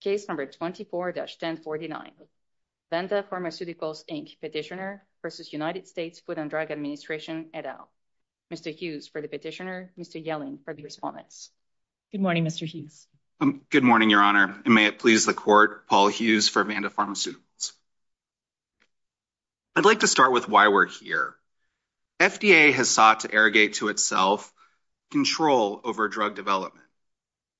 Case No. 24-1049, Vanda Pharmaceuticals, Inc. Petitioner v. United States Food and Drug Administration, et al. Mr. Hughes for the petitioner, Mr. Yelling for the respondents. Good morning, Mr. Hughes. Good morning, Your Honor, and may it please the Court, Paul Hughes for Vanda Pharmaceuticals. I'd like to start with why we're here. FDA has sought to arrogate to itself control over drug development.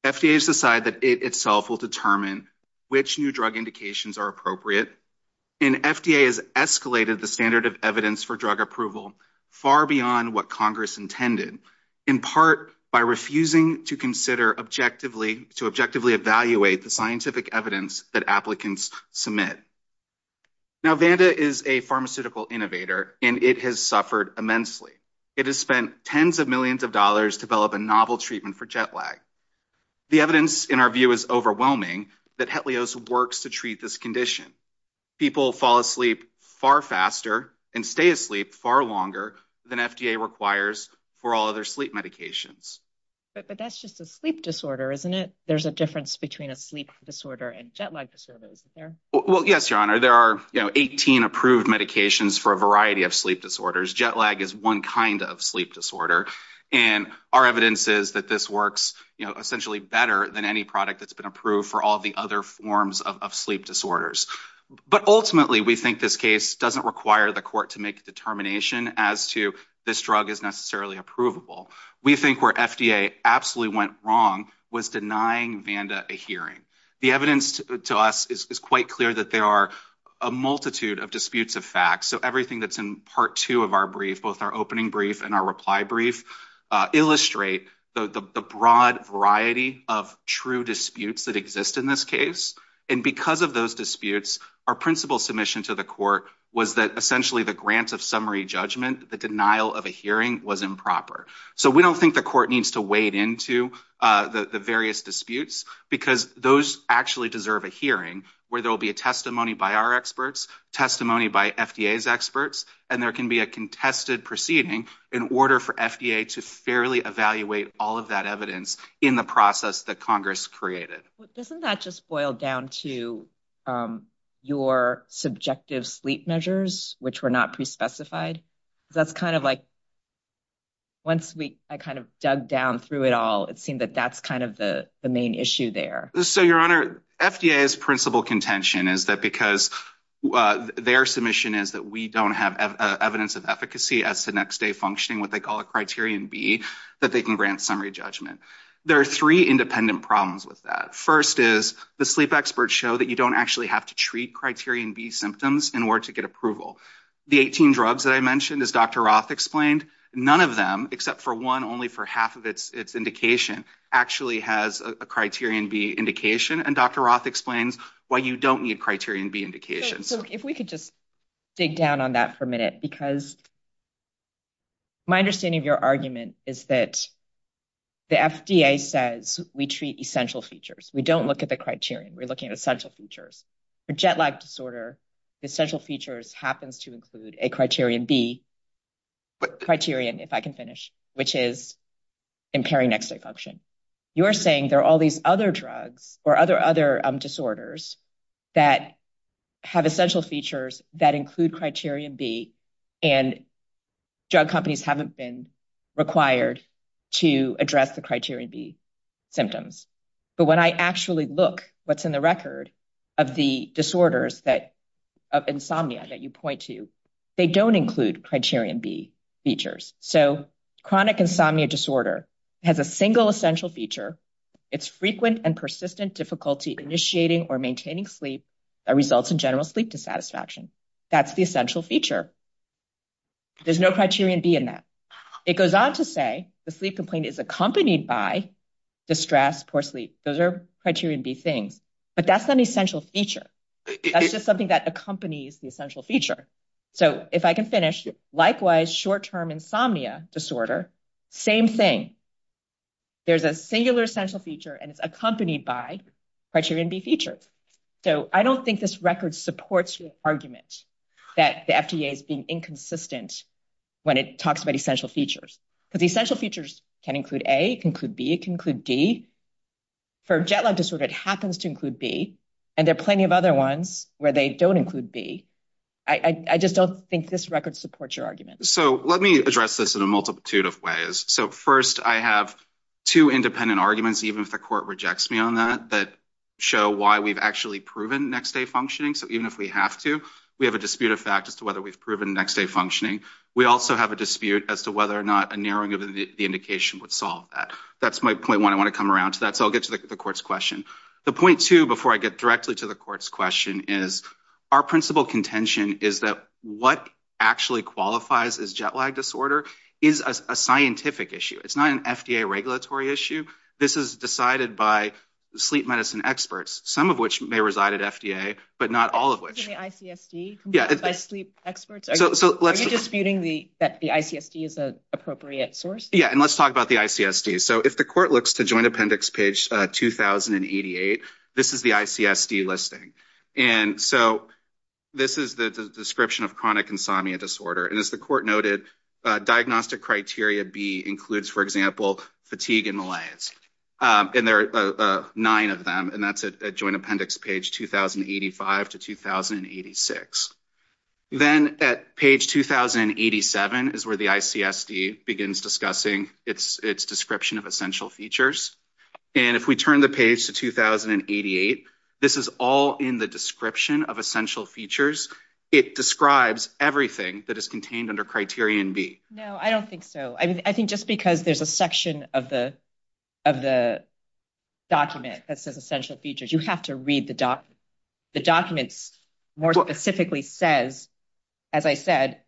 FDA has decided that it itself will determine which new drug indications are appropriate. And FDA has escalated the standard of evidence for drug approval far beyond what Congress intended, in part by refusing to objectively evaluate the scientific evidence that applicants submit. Now, Vanda is a pharmaceutical innovator, and it has suffered immensely. It has spent tens of millions of dollars to develop a novel treatment for jet lag. The evidence, in our view, is overwhelming that Hetlios works to treat this condition. People fall asleep far faster and stay asleep far longer than FDA requires for all other sleep medications. But that's just a sleep disorder, isn't it? There's a difference between a sleep disorder and jet lag disorder, isn't there? Well, yes, Your Honor. There are, you know, 18 approved medications for a variety of sleep disorders. Jet lag is one kind of sleep disorder. And our evidence is that this works, you know, essentially better than any product that's been approved for all the other forms of sleep disorders. But ultimately, we think this case doesn't require the Court to make a determination as to this drug is necessarily approvable. We think where FDA absolutely went wrong was denying Vanda a hearing. The evidence to us is quite clear that there are a multitude of disputes of facts. So everything that's in Part 2 of our brief, both our opening brief and our reply brief, illustrate the broad variety of true disputes that exist in this case. And because of those disputes, our principal submission to the Court was that essentially the grant of summary judgment, the denial of a hearing, was improper. So we don't think the Court needs to wade into the various disputes because those actually deserve a hearing where there will be a testimony by our experts, testimony by FDA's experts, and there can be a contested proceeding in order for FDA to fairly evaluate all of that evidence in the process that Congress created. Doesn't that just boil down to your subjective sleep measures, which were not specified? That's kind of like, once I kind of dug down through it all, it seemed that that's kind of the main issue there. So, Your Honor, FDA's principal contention is that because their submission is that we don't have evidence of efficacy as to next day functioning, what they call a Criterion B, that they can grant summary judgment. There are three independent problems with that. First is the sleep experts show that you don't actually have to treat Criterion B symptoms in order to get approval. The 18 drugs that I mentioned, as Dr. Roth explained, none of them, except for one only for half of its indication, actually has a Criterion B indication, and Dr. Roth explains why you don't need Criterion B indications. So if we could just dig down on that for a minute, because my understanding of your argument is that the FDA says we treat essential features, we don't look at the criterion, we're looking at essential features happens to include a Criterion B criterion, if I can finish, which is impairing next day function. You're saying there are all these other drugs or other disorders that have essential features that include Criterion B, and drug companies haven't been required to address the Criterion B symptoms. But when I actually look what's in the record of the disorders of insomnia that you point to, they don't include Criterion B features. So chronic insomnia disorder has a single essential feature. It's frequent and persistent difficulty initiating or maintaining sleep that results in general sleep dissatisfaction. That's the essential feature. There's no Criterion B in that. It goes on to say the sleep complaint is accompanied by distress, poor sleep. Those are Criterion B things, but that's not an essential feature. That's just something that accompanies the essential feature. So if I can finish, likewise, short-term insomnia disorder, same thing. There's a singular essential feature and it's accompanied by Criterion B features. So I don't think this record supports your argument that the FDA is being inconsistent when it talks about essential features, because essential features can include A, can include B, can include D. For jet lag disorder, it happens to include B, and there are plenty of other ones where they don't include B. I just don't think this record supports your argument. So let me address this in a multitude of ways. So first, I have two independent arguments, even if the court rejects me on that, that show why we've actually proven next-day functioning. So even if we have to, we have a dispute of fact as to whether we've proven next-day functioning. We also have a dispute as to whether or not a narrowing of the indication would solve that. That's my point one. I want to come around to that. So I'll get to the court's question. The point two, before I get directly to the court's question, is our principal contention is that what actually qualifies as jet lag disorder is a scientific issue. It's not an FDA regulatory issue. This is decided by sleep medicine experts, some of which may reside at FDA, but not all of which. The ICSD by sleep experts? Are you disputing that the ICSD is an appropriate source? Yeah. And let's talk about the ICSD. So if the court looks to joint appendix page 2088, this is the ICSD listing. And so this is the description of chronic insomnia disorder. And as the court noted, diagnostic criteria B includes, for example, fatigue and malaise. And there are nine of them, and that's at joint appendix page 2085 to 2086. Then at page 2087 is where the ICSD begins discussing its description of essential features. And if we turn the page to 2088, this is all in the description of essential features. It describes everything that is contained under criterion B. No, I don't think so. I think just because there's a section of the document that says specifically says, as I said,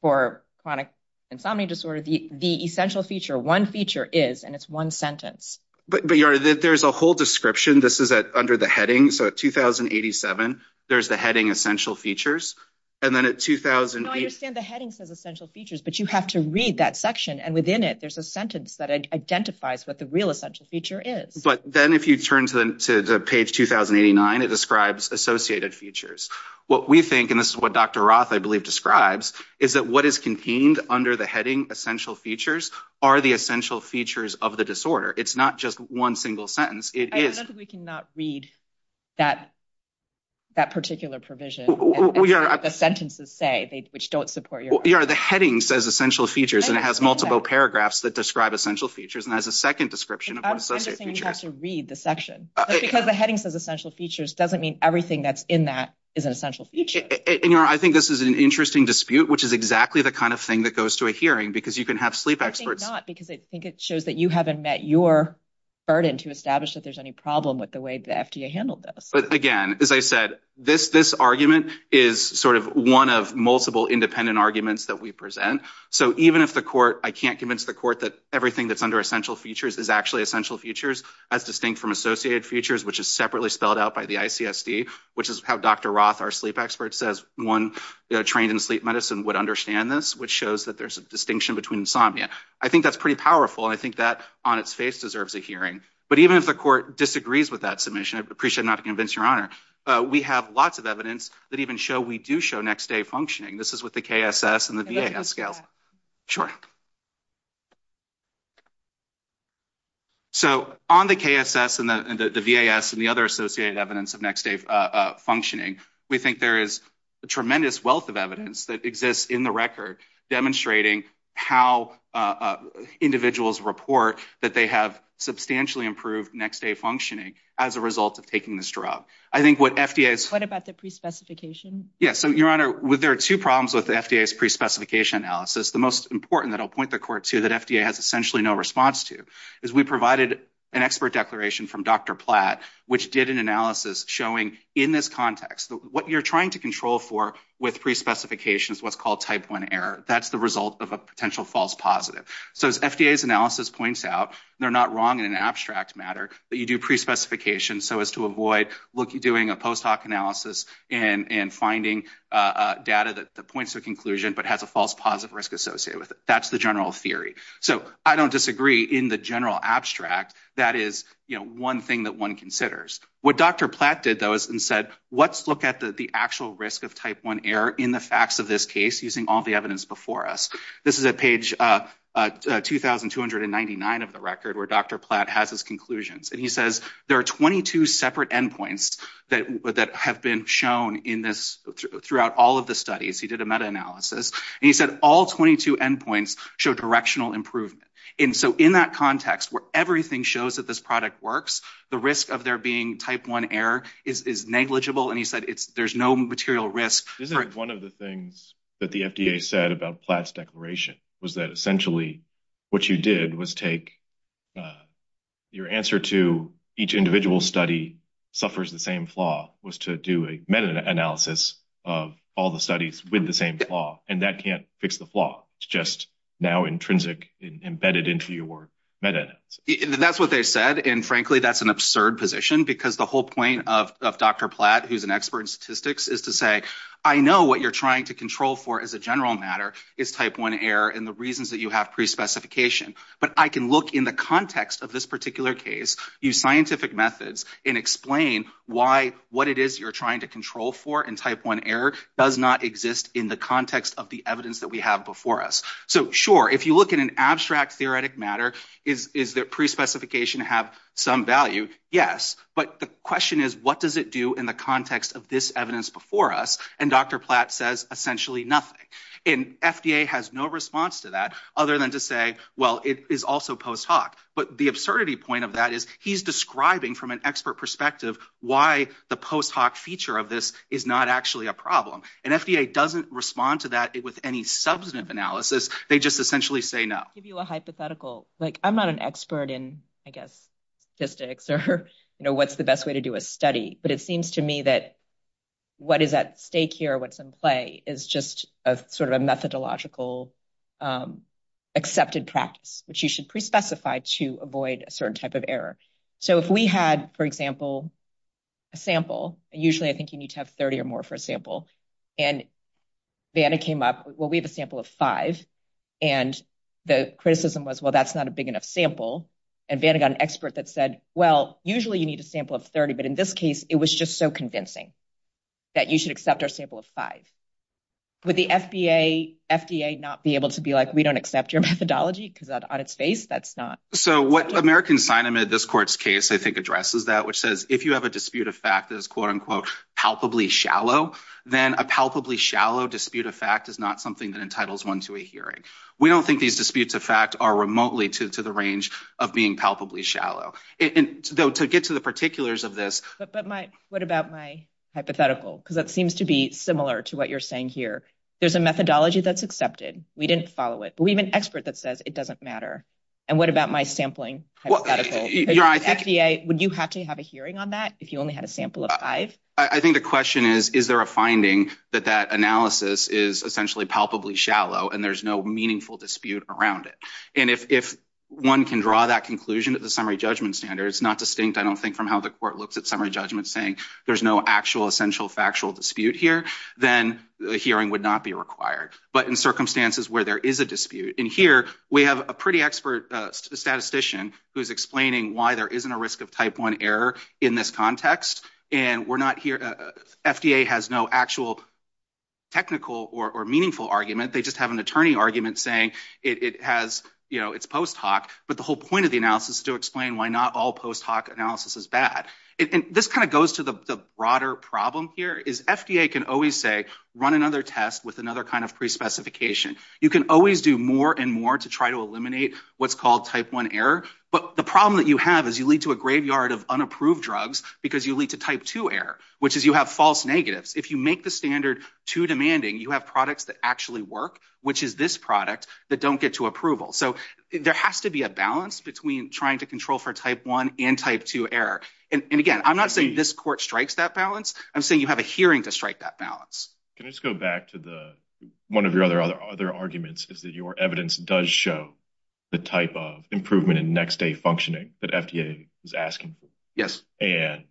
for chronic insomnia disorder, the essential feature, one feature is, and it's one sentence. But there's a whole description. This is under the heading. So at 2087, there's the heading essential features. And then at 2008... No, I understand the heading says essential features, but you have to read that section. And within it, there's a sentence that identifies what the real essential feature is. But then if you turn to the page 2089, it describes associated features. What we think, and this is what Dr. Roth, I believe, describes, is that what is contained under the heading essential features are the essential features of the disorder. It's not just one single sentence. I don't think we can not read that particular provision. We are... And what the sentences say, which don't support your... Yeah, the heading says essential features, and it has multiple paragraphs that describe essential features and has a second description of what associated features are. It's interesting you have to read the section. Because the heading says essential features doesn't mean everything that's in that is an essential feature. And I think this is an interesting dispute, which is exactly the kind of thing that goes to a hearing, because you can have sleep experts... I think not, because I think it shows that you haven't met your burden to establish that there's any problem with the way the FDA handled this. But again, as I said, this argument is sort of one of multiple independent arguments that we present. So even if the court... I can't convince the court that everything that's under essential features is actually features, as distinct from associated features, which is separately spelled out by the ICSD, which is how Dr. Roth, our sleep expert, says one trained in sleep medicine would understand this, which shows that there's a distinction between insomnia. I think that's pretty powerful, and I think that on its face deserves a hearing. But even if the court disagrees with that submission, I appreciate not to convince your honor, we have lots of evidence that even show we do show next day functioning. This is with the KSS and the VAS scales. Sure. So on the KSS and the VAS and the other associated evidence of next day functioning, we think there is a tremendous wealth of evidence that exists in the record demonstrating how individuals report that they have substantially improved next day functioning as a result of taking this drug. I think what FDA is... What about the pre-specification? Yeah. So your honor, there are two problems with the FDA's pre-specification analysis. The most important that I'll point the court to that FDA has essentially no response to is we provided an expert declaration from Dr. Platt, which did an analysis showing in this context that what you're trying to control for with pre-specification is what's called type one error. That's the result of a potential false positive. So as FDA's analysis points out, they're not wrong in an abstract matter that you do pre-specification so as to avoid doing a post hoc analysis and finding data that points to a conclusion but has a false positive risk associated with it. That's the general theory. So I don't disagree in the general abstract. That is one thing that one considers. What Dr. Platt did though is he said, let's look at the actual risk of type one error in the facts of this case using all the evidence before us. This is at page 2,299 of the record where Dr. Platt has his conclusions and he says there are 22 separate endpoints that have been shown throughout all of the studies. He did a meta-analysis and he said all 22 endpoints show directional improvement. And so in that context where everything shows that this product works, the risk of there being type one error is negligible and he said there's no material risk. Isn't one of the things that the FDA said about Platt's declaration was that essentially what you did was take your answer to each individual study suffers the same flaw was to do a meta-analysis of all the studies with the same flaw and that can't fix the flaw. It's just now intrinsic embedded into your meta-analysis. That's what they said and frankly that's an absurd position because the whole point of Dr. Platt who's an expert in statistics is to say I know what you're trying to control for as a general matter is type one error and the reasons that you have pre-specification but I can look in the context of this particular case use scientific methods and explain why what it is you're trying to control for and type one error does not exist in the context of the evidence that we have before us. So sure if you look at an abstract theoretic matter is is that pre-specification have some value yes but the question is what does it do in the context of this evidence before us and Dr. Platt says essentially nothing and FDA has no response to that other than to say well it is also post hoc but the absurdity point of that is he's describing from an expert perspective why the post hoc feature of this is not actually a problem and FDA doesn't respond to that with any substantive analysis they just essentially say no. Give you a hypothetical like I'm not an expert in I guess statistics or you know what's the best way to do a study but it seems to me that what is at stake here what's in play is just a sort of a methodological accepted practice which you should pre-specify to avoid a certain type of error. So if we had for example a sample usually I think you need to have 30 or more for a sample and Vanna came up well we have a sample of five and the criticism was well that's not a big enough sample and Vanna got an expert that said well usually you need a sample of 30 but in this case it was just so convincing that you should accept our sample of five. Would the FDA not be able to be like we don't accept your methodology because on its face that's not. So what American sign amid this court's case I think addresses that which says if you have a dispute of fact that is quote-unquote palpably shallow then a palpably shallow dispute of fact is not something that entitles one to a hearing. We don't think these disputes of fact are remotely to the range of being palpably shallow and though to get to the particulars of this. But my what about my hypothetical because that seems to be similar to what you're saying here. There's a methodology that's accepted we didn't follow it but we have an expert that says it doesn't matter and what about my sampling? Would you have to have a hearing on that if you only had a sample of five? I think the question is is there a finding that that analysis is essentially palpably shallow and there's no meaningful dispute around it. And if one can draw that conclusion at the summary judgment standard it's not distinct I don't think from how the court looks at summary judgment saying there's no actual essential factual dispute here then the hearing would not be required. But in circumstances where there is a dispute and here we have a pretty expert statistician who's explaining why there isn't a risk of type one error in this context and we're not here FDA has no actual technical or meaningful argument they just have an attorney argument saying it has you know it's post hoc but the whole point of the analysis is to explain why not all post hoc analysis is bad. And this kind of goes to the broader problem here is FDA can always say run another test with another kind of pre-specification. You can always do more and more to try to eliminate what's called type one error but the problem that you have is you lead to a graveyard of unapproved drugs because you lead to type two error which is you have false negatives if you make the standard too demanding you have products that actually work which is this product that don't get to approval. So there has to be a balance between trying to control for type one and type two error and again I'm not saying this court strikes that balance I'm saying you have a hearing to strike that balance. Can I just go back to the one of your other other arguments is that your evidence does show the type of improvement in next day functioning that FDA is asking for. Yes. And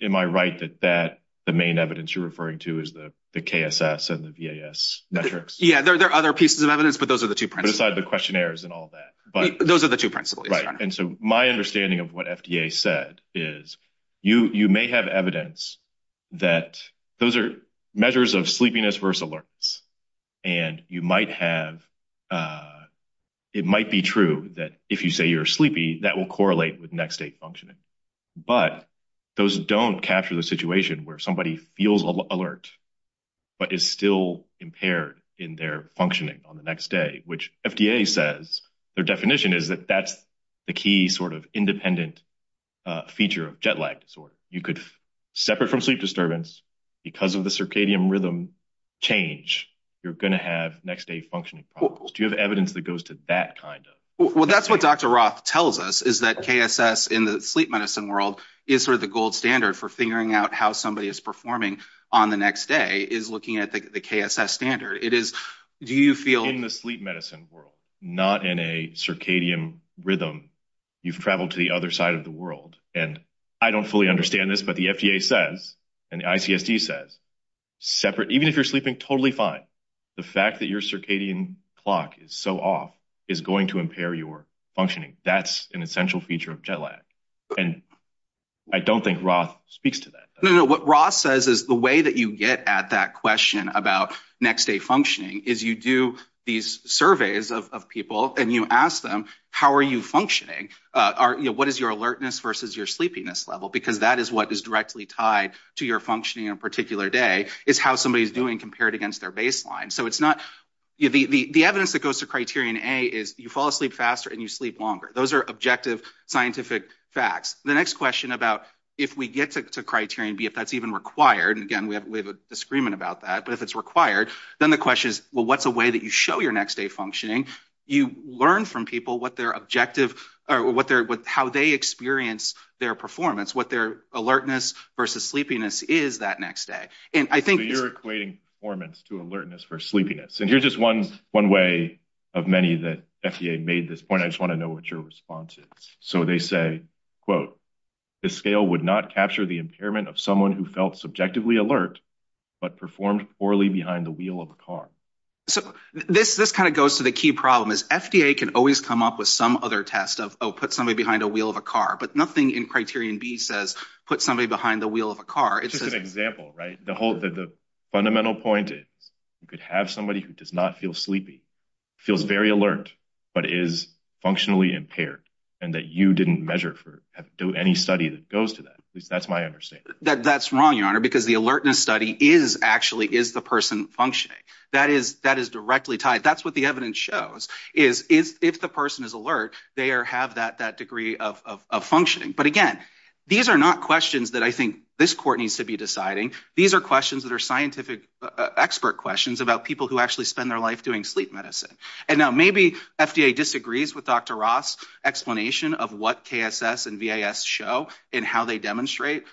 am I right that that the main evidence you're referring to is the the KSS and the VAS metrics? Yeah there are other pieces of evidence but those are the two principles. But aside the questionnaires and all that but those are the two principles. Right and so my understanding of what FDA said is you you may have evidence that those are measures of sleepiness versus alerts and you might have it might be true that if you say you're sleepy that will correlate with next day functioning but those don't capture the situation where somebody feels alert but is still impaired in their functioning on the next day which FDA says their definition is that that's the key sort of independent feature of jet lag disorder. You could separate from sleep disturbance because of the circadian rhythm change you're going to have next day functioning problems. Do you have evidence that goes to that kind of well that's what Dr. Roth tells us is that KSS in the sleep medicine world is sort of the gold standard for figuring out how somebody is performing on the next day is looking at the KSS standard. It is do you feel in the sleep medicine world not in a circadian rhythm you've traveled to the other side of the and I don't fully understand this but the FDA says and the ICSD says separate even if you're sleeping totally fine the fact that your circadian clock is so off is going to impair your functioning. That's an essential feature of jet lag and I don't think Roth speaks to that. No no what Roth says is the way that you get at that question about next day functioning is you do these surveys of people and you ask them how are you functioning, what is your alertness versus your sleepiness level because that is what is directly tied to your functioning on a particular day is how somebody's doing compared against their baseline. So it's not the evidence that goes to criterion A is you fall asleep faster and you sleep longer. Those are objective scientific facts. The next question about if we get to criterion B if that's even required and again we have a disagreement about that but if it's required then the question is well what's a way that you show your next day functioning you learn from people what their objective or what their how they experience their performance what their alertness versus sleepiness is that next day and I think you're equating performance to alertness for sleepiness and here's just one one way of many that FDA made this point I just want to know what your response is. So they say quote the scale would not capture the impairment of someone who felt subjectively alert but performed poorly behind the wheel of a car. So this this goes to the key problem is FDA can always come up with some other test of oh put somebody behind a wheel of a car but nothing in criterion B says put somebody behind the wheel of a car. It's just an example right the whole the fundamental point is you could have somebody who does not feel sleepy feels very alert but is functionally impaired and that you didn't measure for do any study that goes to that at least that's my understanding. That that's wrong your honor because the alertness study is actually is the person functioning that is that is directly tied that's what the evidence shows is is if the person is alert they are have that that degree of of functioning but again these are not questions that I think this court needs to be deciding these are questions that are scientific expert questions about people who actually spend their life doing sleep medicine and now maybe FDA disagrees with Dr. Ross explanation of what KSS and VAS show and how demonstrate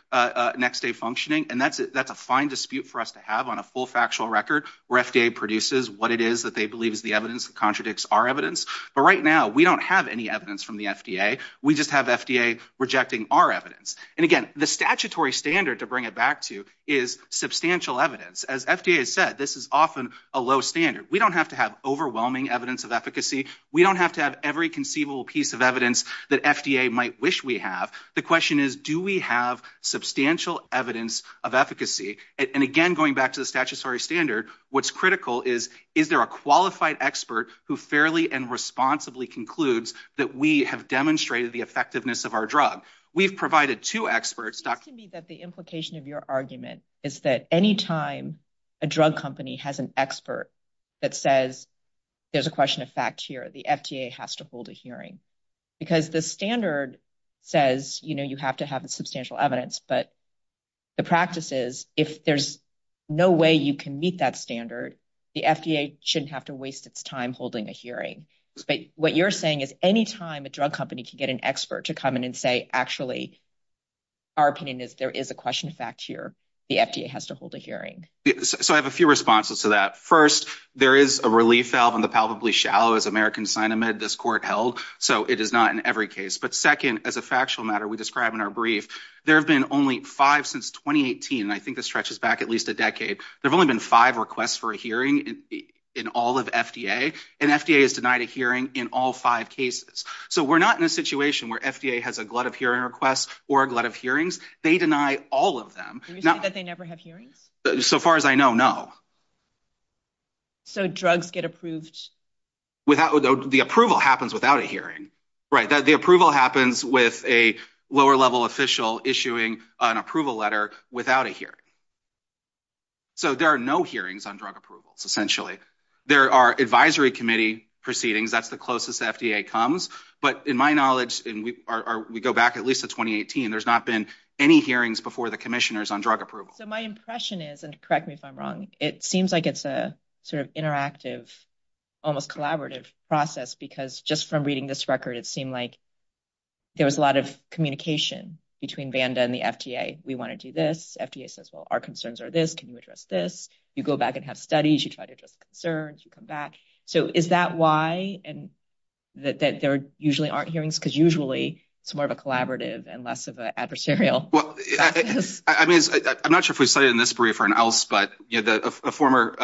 next day functioning and that's that's a fine dispute for us to have on a full factual record where FDA produces what it is that they believe is the evidence that contradicts our evidence but right now we don't have any evidence from the FDA we just have FDA rejecting our evidence and again the statutory standard to bring it back to is substantial evidence as FDA has said this is often a low standard we don't have to have overwhelming evidence of efficacy we don't have to every conceivable piece of evidence that FDA might wish we have the question is do we have substantial evidence of efficacy and again going back to the statutory standard what's critical is is there a qualified expert who fairly and responsibly concludes that we have demonstrated the effectiveness of our drug we've provided two experts to me that the implication of your argument is that any time a drug company has an expert that says there's a question of fact here the FDA has to hold a hearing because the standard says you know you have to have a substantial evidence but the practice is if there's no way you can meet that standard the FDA shouldn't have to waste its time holding a hearing but what you're saying is any time a drug company can get an expert to come in and say actually our opinion is there is a question of fact here the FDA has to hold a hearing so I have a few responses to that first there is a relief valve in the palpably shallow as American sign amid this court held so it is not in every case but second as a factual matter we describe in our brief there have been only five since 2018 and I think this stretches back at least a decade there have only been five requests for a hearing in all of FDA and FDA has denied a hearing in all five cases so we're not in a situation where FDA has a glut of hearing requests or a glut of hearings they deny all of them now that they never have hearings so far as I know no so drugs get approved without the approval happens without a hearing right that the approval happens with a lower level official issuing an approval letter without a hearing so there are no hearings on drug approvals essentially there are advisory committee proceedings that's the closest FDA comes but in my knowledge and we are we go back at least to 2018 there's not been any hearings before the seems like it's a sort of interactive almost collaborative process because just from reading this record it seemed like there was a lot of communication between Vanda and the FDA we want to do this FDA says well our concerns are this can you address this you go back and have studies you try to address concerns you come back so is that why and that there usually aren't hearings because usually it's more of a collaborative and less of an adversarial well I mean I'm not sure if we studied in this brief or else but you know the former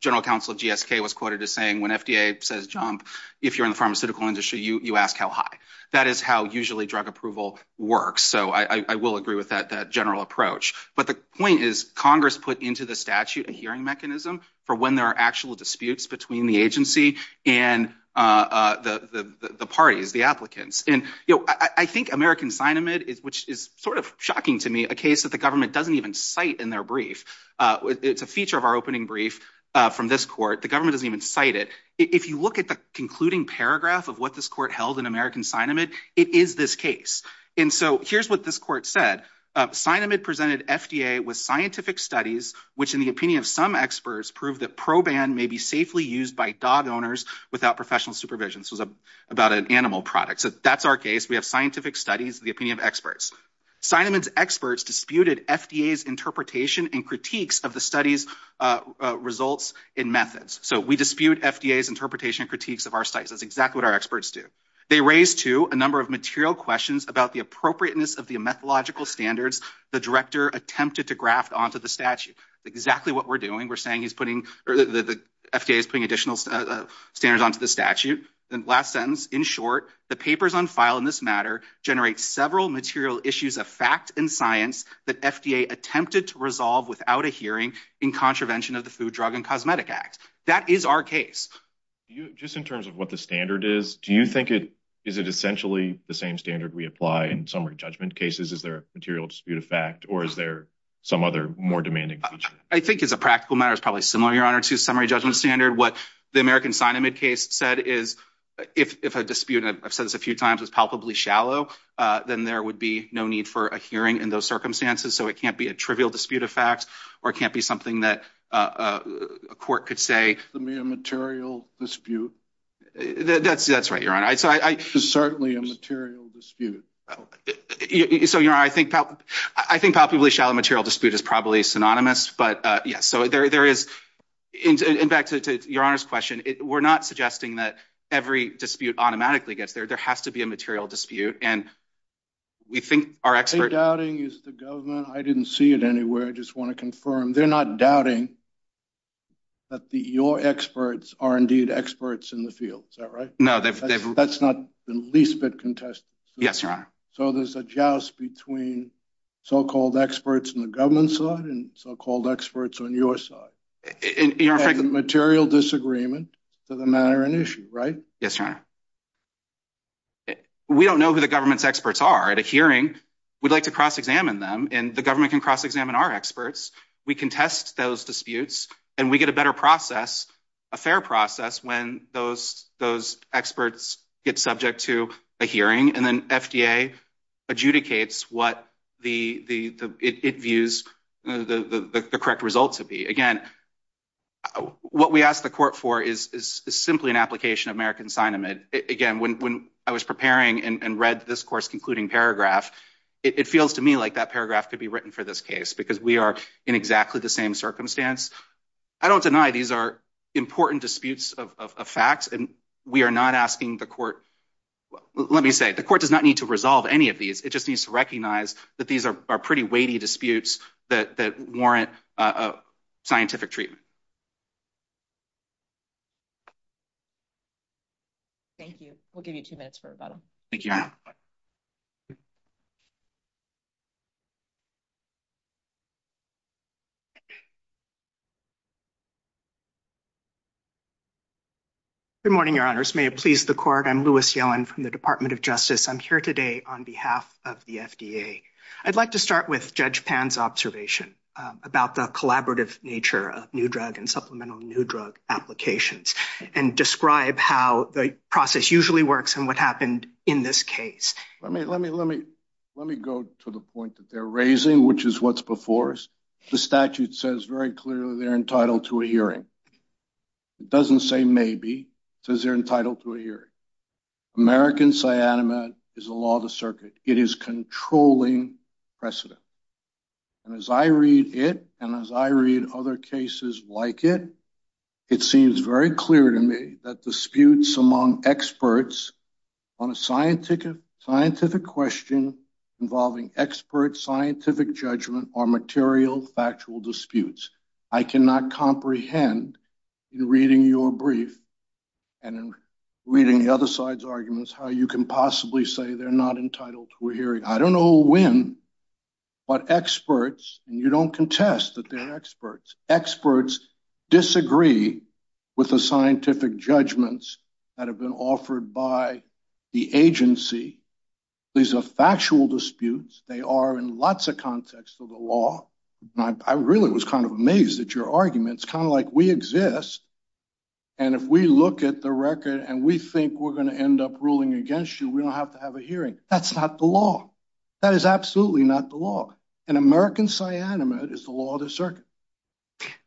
general counsel of GSK was quoted as saying when FDA says jump if you're in the pharmaceutical industry you you ask how high that is how usually drug approval works so I I will agree with that that general approach but the point is Congress put into the statute a hearing mechanism for when there are actual disputes between the agency and uh the the the parties the applicants and you know I I think American sign amid is which is sort of to me a case that the government doesn't even cite in their brief uh it's a feature of our opening brief uh from this court the government doesn't even cite it if you look at the concluding paragraph of what this court held in American sign amid it is this case and so here's what this court said uh sign amid presented FDA with scientific studies which in the opinion of some experts prove that proban may be safely used by dog owners without professional supervision this was a about an animal product so that's our case we have scientific studies the opinion of experts sign amid's experts disputed FDA's interpretation and critiques of the study's uh results in methods so we dispute FDA's interpretation critiques of our sites that's exactly what our experts do they raise to a number of material questions about the appropriateness of the methodological standards the director attempted to graft onto the statute exactly what we're doing we're saying he's putting the FDA is putting additional standards onto the statute then last sentence in short the papers on file in this matter generate several material issues of fact and science that FDA attempted to resolve without a hearing in contravention of the food drug and cosmetic act that is our case you just in terms of what the standard is do you think it is it essentially the same standard we apply in summary judgment cases is there a material dispute of fact or is there some other more demanding feature i think it's a practical matter it's probably similar your honor to summary judgment standard what the american sign amid case said is if if a dispute i've said this a few times was palpably shallow uh then there would be no need for a hearing in those circumstances so it can't be a trivial dispute of fact or it can't be something that uh a court could say to me a material dispute that's that's right your honor so i i it's certainly a material dispute so you know i think i think palpably shallow material dispute is probably synonymous but uh yes so there there is in in fact to your honor's question it that every dispute automatically gets there there has to be a material dispute and we think our expert doubting is the government i didn't see it anywhere i just want to confirm they're not doubting that the your experts are indeed experts in the field is that right no that's not the least bit contested yes your honor so there's a joust between so-called experts in the government side and so-called experts on your side in your material disagreement to the matter and issue right yes your honor we don't know who the government's experts are at a hearing we'd like to cross-examine them and the government can cross-examine our experts we contest those disputes and we get a better process a fair process when those those experts get subject to a hearing and then fda adjudicates what the the the it views the the the correct result to be again what we ask the court for is is simply an application of american sign amid again when when i was preparing and read this course concluding paragraph it feels to me like that paragraph could be written for this case because we are in exactly the same circumstance i don't deny these are important disputes of of facts and we are not asking the court let me say the court does not need to resolve any of these it just needs to recognize that these are pretty weighty disputes that that warrant a scientific treatment thank you we'll give you two minutes for rebuttal thank you good morning your honors may it please the court i'm lewis yellen from the department of justice i'm here today on behalf of the fda i'd like to start with judge pan's observation about the collaborative nature of new drug and supplemental new drug applications and describe how the process usually works and what happened in this case let me let me let me let me go to the point that they're raising which is what's before us the statute says very clearly they're entitled to a hearing it doesn't say maybe it says they're entitled to a hearing american cyanide is a law of the circuit it is controlling precedent and as i read it and as i read other cases like it it seems very clear to me that disputes among experts on a scientific scientific question involving expert scientific judgment or material factual disputes i cannot comprehend in reading your brief and in reading the other side's arguments how you can possibly say they're not entitled to a hearing i don't know when but experts and you don't contest that they're experts experts disagree with the scientific judgments that have been offered by the agency these are factual disputes they are in lots of contexts of the law i really was kind of amazed at your arguments kind of like we exist and if we look at the record and we think we're going to end up ruling against you we don't have to have a hearing that's not the law that is absolutely not the law an american cyanide is the law of the circuit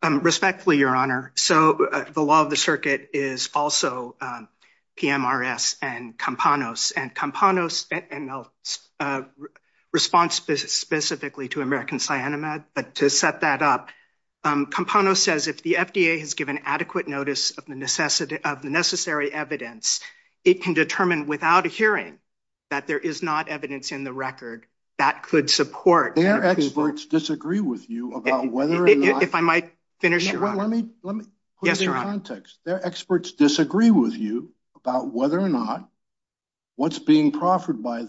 respectfully your honor so the law of the circuit is also pmrs and campanos and campanos and response specifically to american cyanide but to set that up um campano says if the fda has given adequate notice of the necessity of the necessary evidence it can determine without a hearing that there is not evidence in the record that could support their experts disagree with you about whether if i might finish let me let me yes your context their experts disagree with you about whether or not what's being proffered by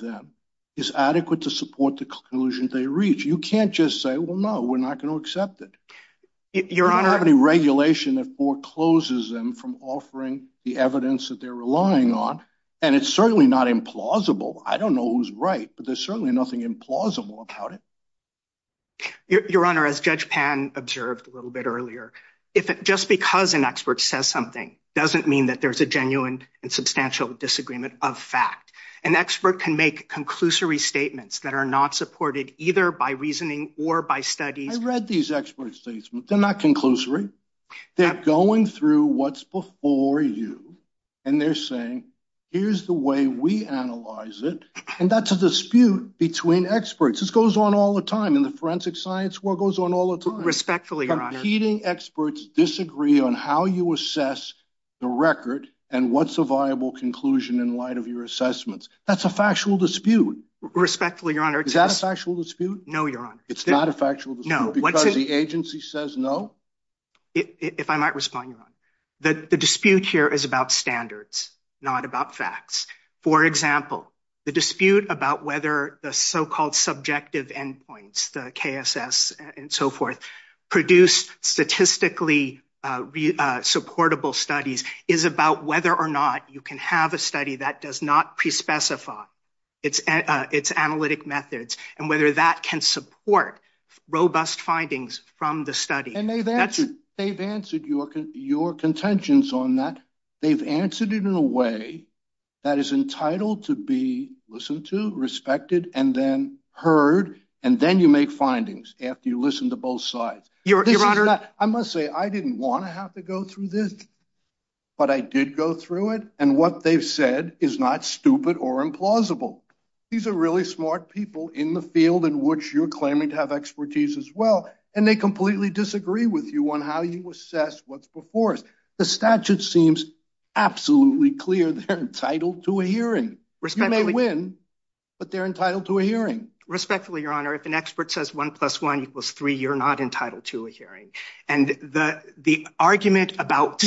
is adequate to support the conclusion they reach you can't just say well no we're not going to accept it your honor have any regulation that forecloses them from offering the evidence that they're relying on and it's certainly not implausible i don't know who's right but there's certainly nothing implausible about it your honor as judge pan observed a little bit earlier if just because an expert says something doesn't mean that there's a genuine and substantial disagreement of fact an expert can make conclusory statements that are not supported either by reasoning or by studies i read these expert statements they're not conclusory they're going through what's before you and they're saying here's the way we analyze it and that's a dispute between experts this goes on all the time in the forensic science world goes on all the time competing experts disagree on how you assess the record and what's a viable conclusion in light of your assessments that's a factual dispute respectfully your honor is that a factual dispute no your honor it's not a factual no because the agency says no if i might respond your honor that the dispute here is about standards not about facts for example the dispute about whether the so-called subjective endpoints the kss and so forth produced statistically supportable studies is about whether or not you can have a study that does not pre-specify its uh its analytic methods and whether that can support robust findings from the study and they've answered they've answered your your contentions on that they've answered it in a way that is and then heard and then you make findings after you listen to both sides your honor i must say i didn't want to have to go through this but i did go through it and what they've said is not stupid or implausible these are really smart people in the field in which you're claiming to have expertise as well and they completely disagree with you on how you assess what's before us the statute seems absolutely clear they're entitled to a hearing you may win but they're entitled to a hearing respectfully your honor if an expert says one plus one equals three you're not entitled to a hearing and the the argument about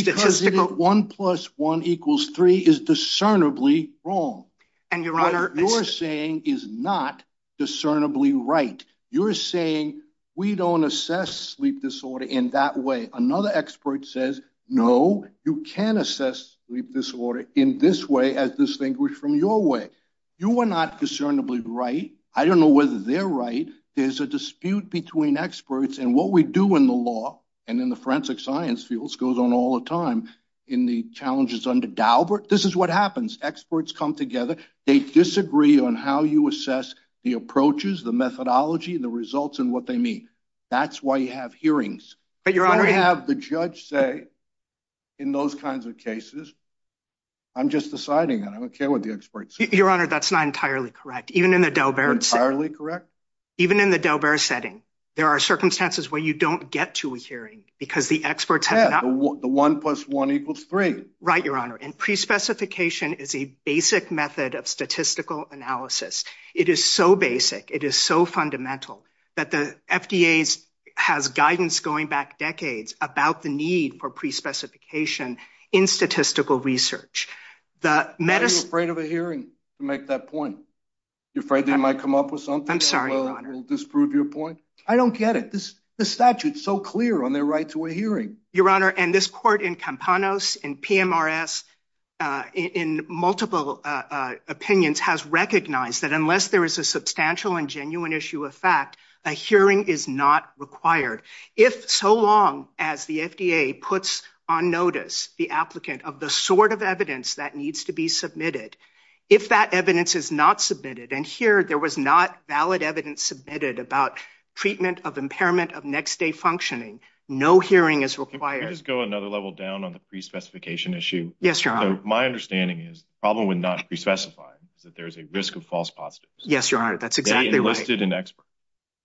one plus one equals three is discernibly wrong and your honor you're saying is not discernibly right you're saying we don't assess sleep disorder in that way another expert says no you can't assess sleep disorder in this way as distinguished from your way you are not discernibly right i don't know whether they're right there's a dispute between experts and what we do in the law and in the forensic science fields goes on all the time in the challenges under daubert this is what happens experts come together they disagree on how you assess the approaches the methodology the results and what they mean that's why you have hearings but your honor have the judge say in those kinds of cases i'm just deciding that i don't care what the experts your honor that's not entirely correct even in the delbert entirely correct even in the delbert setting there are circumstances where you don't get to a hearing because the experts have not the one plus one equals three right your honor and pre-specification is a basic method of statistical analysis it is so basic it is so fundamental that the fda's has guidance going back decades about the need for pre-specification in statistical research the medicine afraid of a hearing to make that point you're afraid they might come up with something i'm sorry we'll disprove your point i don't get it this the statute's so clear on their right to a hearing your honor and this court in campanos in pmrs in multiple opinions has recognized that unless there is a substantial and genuine issue of fact a hearing is not required if so long as the fda puts on notice the applicant of the sort of evidence that needs to be submitted if that evidence is not submitted and here there was not valid evidence submitted about treatment of impairment of next day functioning no hearing is required just go another level down on the pre-specification issue yes your honor my understanding is the problem with not pre-specifying is that there's a risk of false positives yes your honor that's exactly listed an expert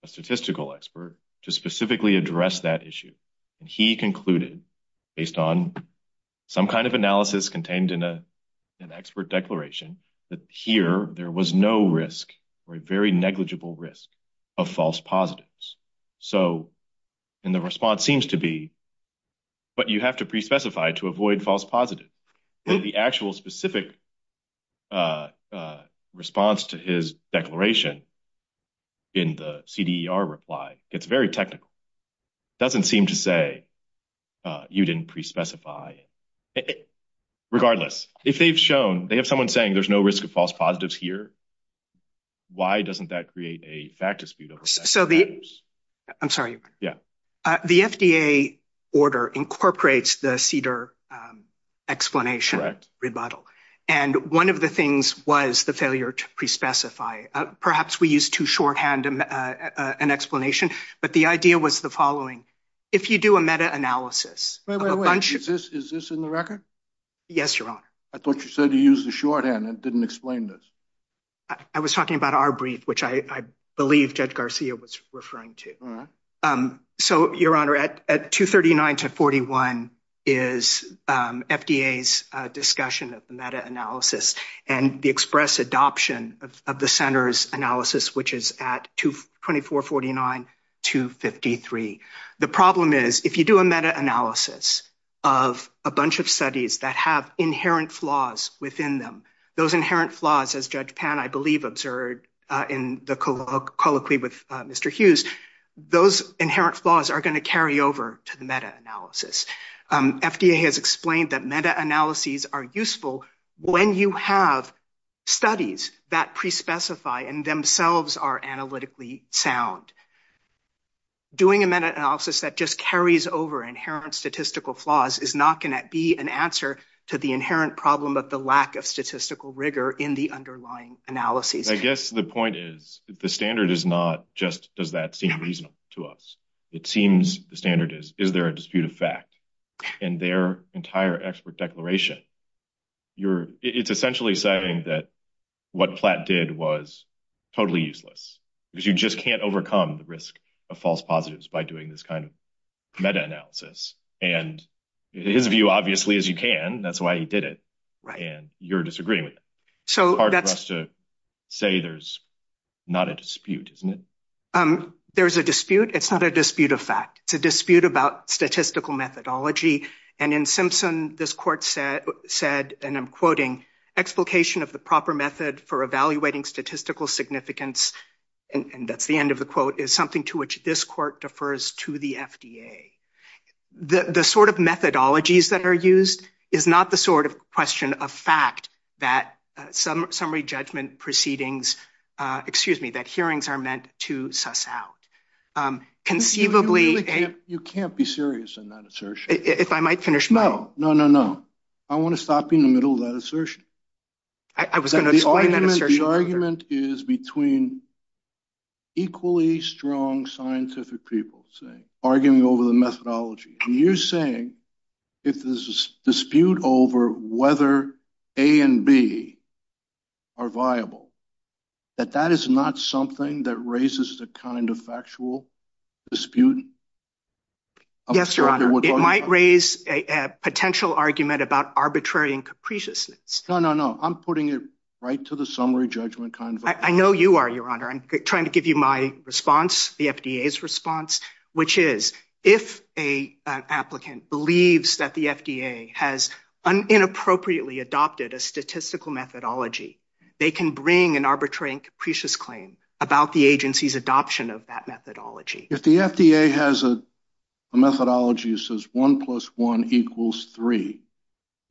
a statistical expert to specifically address that issue and he concluded based on some kind of analysis contained in a an expert declaration that here there was no risk or a very negligible risk of false positives so and the response seems to be but you have to pre-specify to avoid false positive the actual specific uh uh response to his declaration in the cder reply gets very technical doesn't seem to say uh you didn't pre-specify regardless if they've shown they have someone saying there's no risk of false positives here why doesn't that create a fact dispute so the i'm sorry yeah the fda order incorporates the cedar um explanation rebuttal and one of the things was the failure to pre-specify perhaps we used to shorthand an explanation but the idea was the following if you do a meta-analysis is this in the record yes your honor i thought you said you used the shorthand it didn't explain this i was talking about our brief which i i believe judge garcia was referring to um so your honor at at 239 to 41 is um fda's uh discussion of the meta-analysis and the express adoption of the center's analysis which is at 224 49 253 the problem is if you do a meta-analysis of a bunch of studies that have inherent flaws within them those inherent flaws as judge pan i believe observed in the colloquy with mr hughes those inherent flaws are going to carry over to the meta-analysis um fda has explained that meta-analyses are useful when you have studies that pre-specify and themselves are analytically sound doing a meta-analysis that just carries over inherent statistical flaws is not going to be an answer to the inherent problem of the lack of statistical rigor in the underlying analyses i guess the point is the standard is not just does that seem reasonable to us it seems the standard is is there a dispute of fact in their entire expert declaration you're it's essentially saying that what plat did was totally useless because you just can't overcome the risk of false positives by doing this kind meta-analysis and his view obviously is you can that's why he did it right and you're disagreeing with so hard for us to say there's not a dispute isn't it um there's a dispute it's not a dispute of fact it's a dispute about statistical methodology and in simpson this court said said and i'm quoting explication of the proper method for evaluating statistical significance and that's the end of the quote is something to which this court defers to the fda the the sort of methodologies that are used is not the sort of question of fact that some summary judgment proceedings uh excuse me that hearings are meant to suss out um conceivably you can't be serious in that assertion if i might finish no no no no i want to stop in the middle of that assertion i was going to explain that assertion argument is between equally strong scientific people saying arguing over the methodology and you're saying if there's a dispute over whether a and b are viable that that is not something that raises the kind of factual dispute yes your honor it might raise a potential argument about arbitrary and capriciousness no no i'm putting it right to the summary judgment kind of i know you are your honor i'm trying to give you my response the fda's response which is if a applicant believes that the fda has an inappropriately adopted a statistical methodology they can bring an arbitrary and capricious claim about the agency's adoption of that methodology if the fda has a a methodology that says one plus one equals three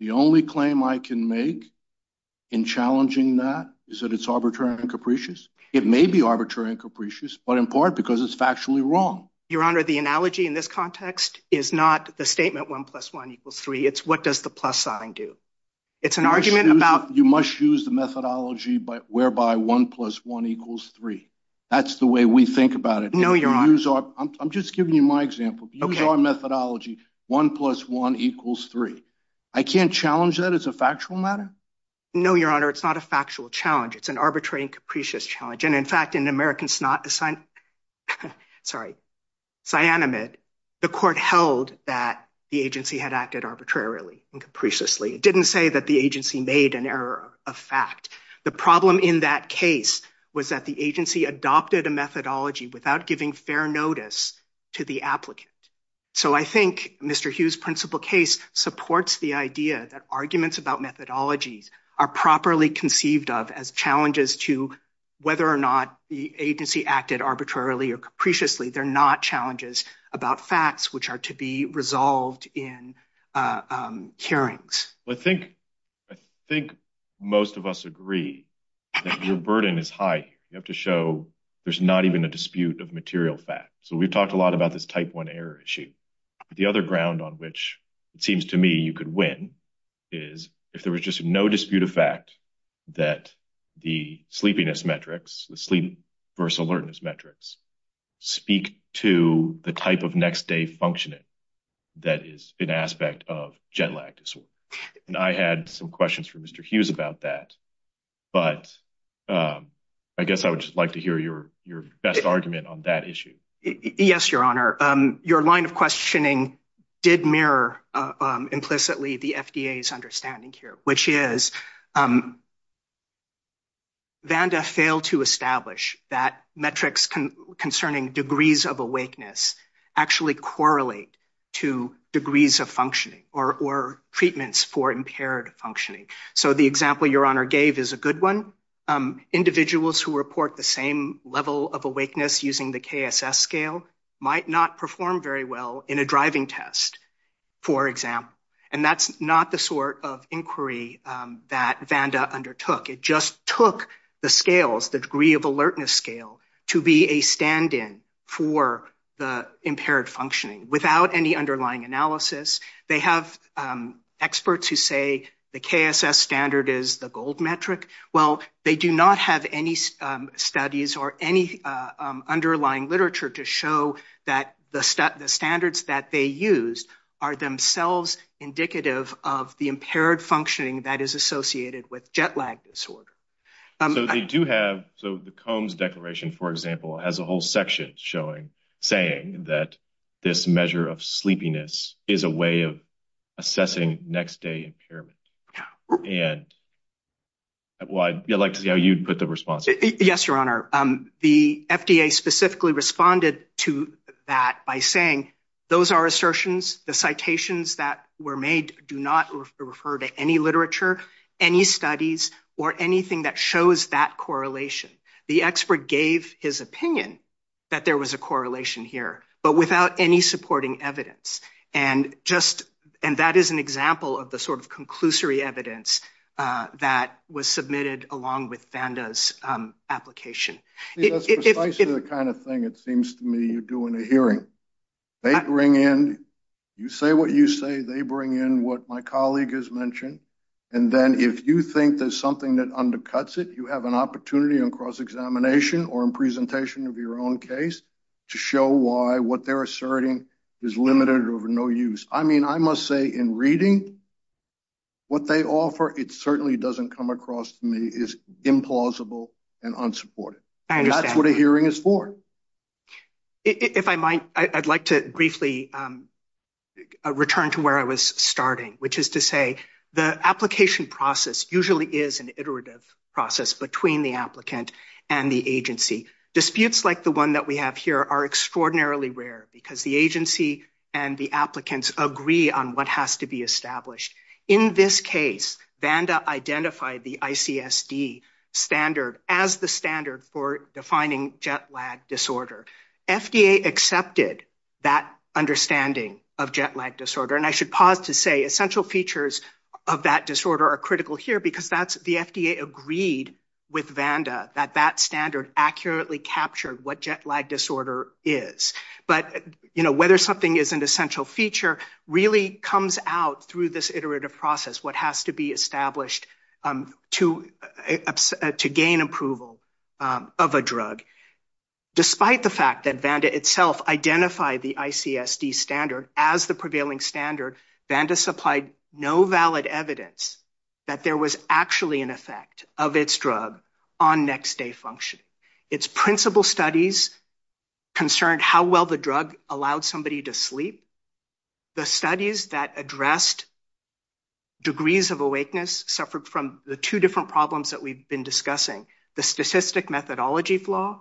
the only claim i can make in challenging that is that it's arbitrary and capricious it may be arbitrary and capricious but in part because it's factually wrong your honor the analogy in this context is not the statement one plus one equals three it's what does the plus sign do it's an argument about you must use the methodology but whereby one plus one equals three that's the way we think about it no you're on i'm just giving you my example use our methodology one plus one equals three i can't challenge that as a factual matter no your honor it's not a factual challenge it's an arbitrary and capricious challenge and in fact in americans not assigned sorry cyanamide the court held that the agency had acted arbitrarily and capriciously it didn't say that the agency made an error of fact the problem in that case was that the agency adopted a methodology without giving fair notice to the applicant so i think mr hughes principal case supports the idea that arguments about methodologies are properly conceived of as challenges to whether or not the agency acted arbitrarily or capriciously they're not challenges about facts which are to be resolved in hearings i think i think most of us agree that your burden is high you have to show there's not even a dispute of material fact so we've talked a lot about this type one error issue the other ground on which it seems to me you could win is if there was just no dispute of fact that the sleepiness metrics the sleep versus alertness metrics speak to the type of next day functioning that is an aspect of jet lag disorder and i had some questions for mr hughes about that but um i guess i would just like to hear your your best argument on that issue yes your honor um your line of questioning did mirror implicitly the fda's understanding here which is um vanda failed to establish that metrics concerning degrees of actually correlate to degrees of functioning or or treatments for impaired functioning so the example your honor gave is a good one um individuals who report the same level of awakeness using the kss scale might not perform very well in a driving test for example and that's not the sort of inquiry that vanda undertook it just took the scales the degree of alertness scale to be a stand-in for the impaired functioning without any underlying analysis they have experts who say the kss standard is the gold metric well they do not have any studies or any underlying literature to show that the stat the standards that they use are themselves indicative of the impaired functioning that is associated with jet lag disorder so they do have so the combs declaration for example has a whole section showing saying that this measure of sleepiness is a way of assessing next day impairment and why i'd like to see how you'd put the response yes your honor um the fda specifically responded to that by saying those are assertions the citations that were made do not refer to any any studies or anything that shows that correlation the expert gave his opinion that there was a correlation here but without any supporting evidence and just and that is an example of the sort of conclusory evidence uh that was submitted along with vanda's um application the kind of thing it seems to me you're doing a hearing they bring in you say what you say they bring in what my colleague has mentioned and then if you think there's something that undercuts it you have an opportunity on cross examination or in presentation of your own case to show why what they're asserting is limited or no use i mean i must say in reading what they offer it certainly doesn't come across to me is implausible and unsupported that's what a hearing is for if i might i'd like to briefly um return to where i was starting which is to say the application process usually is an iterative process between the applicant and the agency disputes like the one that we have here are extraordinarily rare because the agency and the applicants agree on what has to be established in this case vanda identified the icsd standard as the standard for defining jet lag disorder fda accepted that understanding of jet lag disorder and i should pause to say essential features of that disorder are critical here because that's the fda agreed with vanda that that standard accurately captured what jet lag disorder is but you know whether something is an essential feature really comes out through this iterative process what has to be established to to gain approval of a drug despite the fact that vanda itself identified the icsd standard as the prevailing standard vanda supplied no valid evidence that there was actually an effect of its drug on next day function its principal studies concerned how well the drug allowed somebody to sleep the studies that addressed degrees of awakeness suffered from the two different problems that we've been discussing the statistic methodology flaw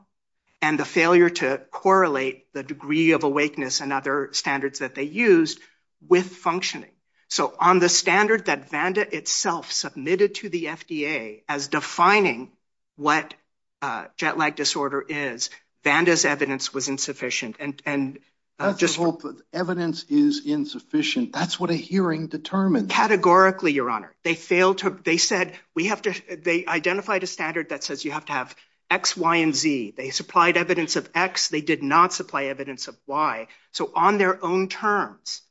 and the failure to correlate the degree of awakeness and other standards that they used with functioning so on the standard that vanda itself submitted to the fda as defining what uh jet lag disorder is vanda's evidence was insufficient and and just hope that evidence is insufficient that's what a hearing determined categorically your honor they failed to they said we have to they identified a standard that says you have to have x y and z they supplied evidence of x they did not supply evidence of y so on their own terms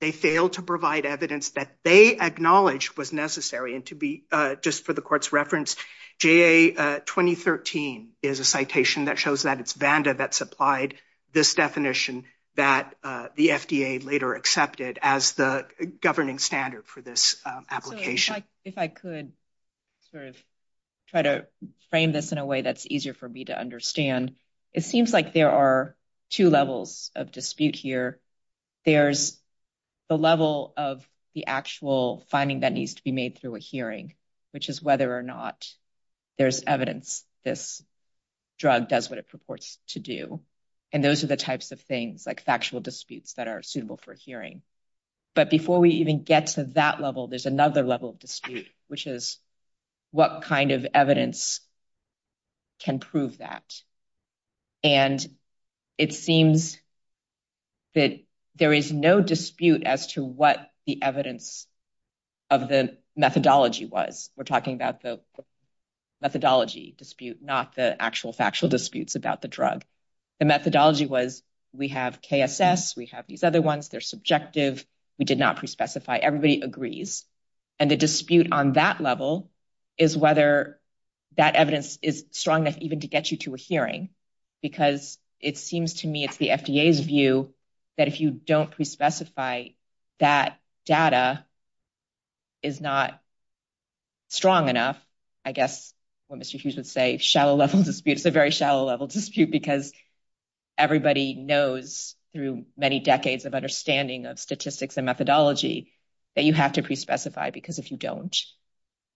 they failed to provide evidence that they acknowledged was necessary and to be uh just for the court's reference ja 2013 is a citation that shows that it's vanda that supplied this definition that uh the fda later accepted as the governing standard for this application if i could sort of try to frame this in a way that's easier for me to understand it seems like there are two levels of dispute here there's the level of the actual finding that needs to be made through a hearing which is whether or not there's evidence this drug does what it purports to do and those are the types of things like factual disputes that are suitable for hearing but before we even get to that level there's another level of dispute which is what kind of evidence can prove that and it seems that there is no dispute as to what the evidence of the methodology was we're talking about the methodology dispute not the actual factual disputes about the drug the methodology was we have kss we have these other ones they're subjective we did not pre-specify everybody agrees and the dispute on that level is whether that evidence is strong enough even to get you to a hearing because it seems to me the fda's view that if you don't pre-specify that data is not strong enough i guess what mr hughes would say shallow level dispute it's a very shallow level dispute because everybody knows through many decades of understanding of statistics and methodology that you have to pre-specify because if you don't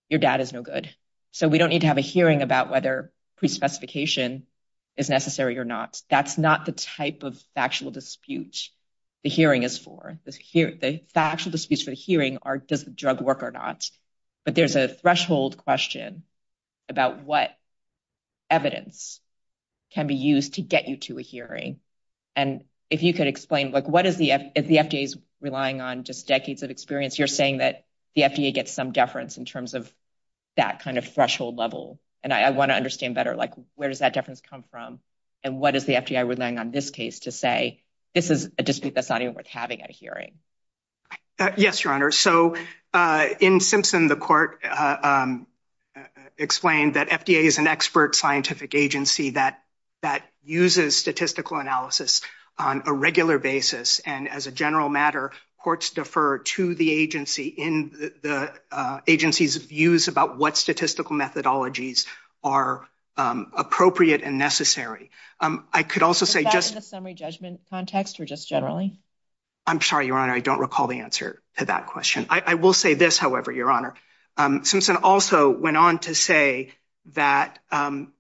your data is no good so we don't need to have a hearing about whether pre-specification is necessary or not that's not the type of factual dispute the hearing is for this here the factual disputes for the hearing are does the drug work or not but there's a threshold question about what evidence can be used to get you to a hearing and if you could explain like what is the if the fda is relying on just decades of experience you're saying that the fda gets some in terms of that kind of threshold level and i want to understand better like where does that difference come from and what is the fda relying on this case to say this is a dispute that's not even worth having a hearing yes your honor so uh in simpson the court um explained that fda is an expert scientific agency that that uses statistical analysis on a regular basis and as a general matter courts defer to the agency in the agency's views about what statistical methodologies are appropriate and necessary um i could also say just the summary judgment context or just generally i'm sorry your honor i don't recall the answer to that question i will say this however your honor um simpson also went on to say that um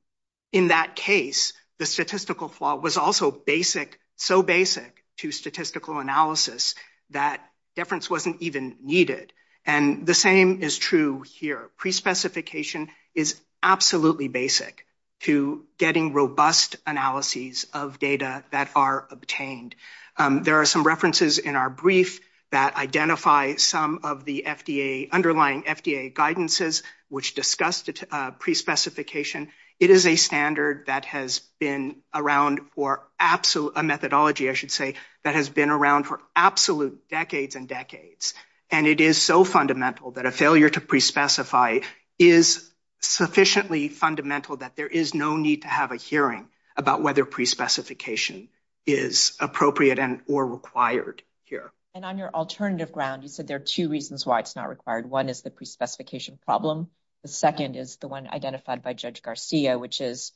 in that case the statistical flaw was also basic so basic to statistical analysis that difference wasn't even needed and the same is true here pre-specification is absolutely basic to getting robust analyses of data that are obtained um there are some references in our brief that identify some of the fda underlying fda guidances which discussed pre-specification it is a standard that has been around for absolute a methodology i should say that has been around for absolute decades and decades and it is so fundamental that a failure to pre-specify is sufficiently fundamental that there is no need to have a hearing about whether pre-specification is appropriate and or required here and on your alternative ground you said there are two reasons why it's not required one is the pre-specification problem the second is the one identified by judge garcia which is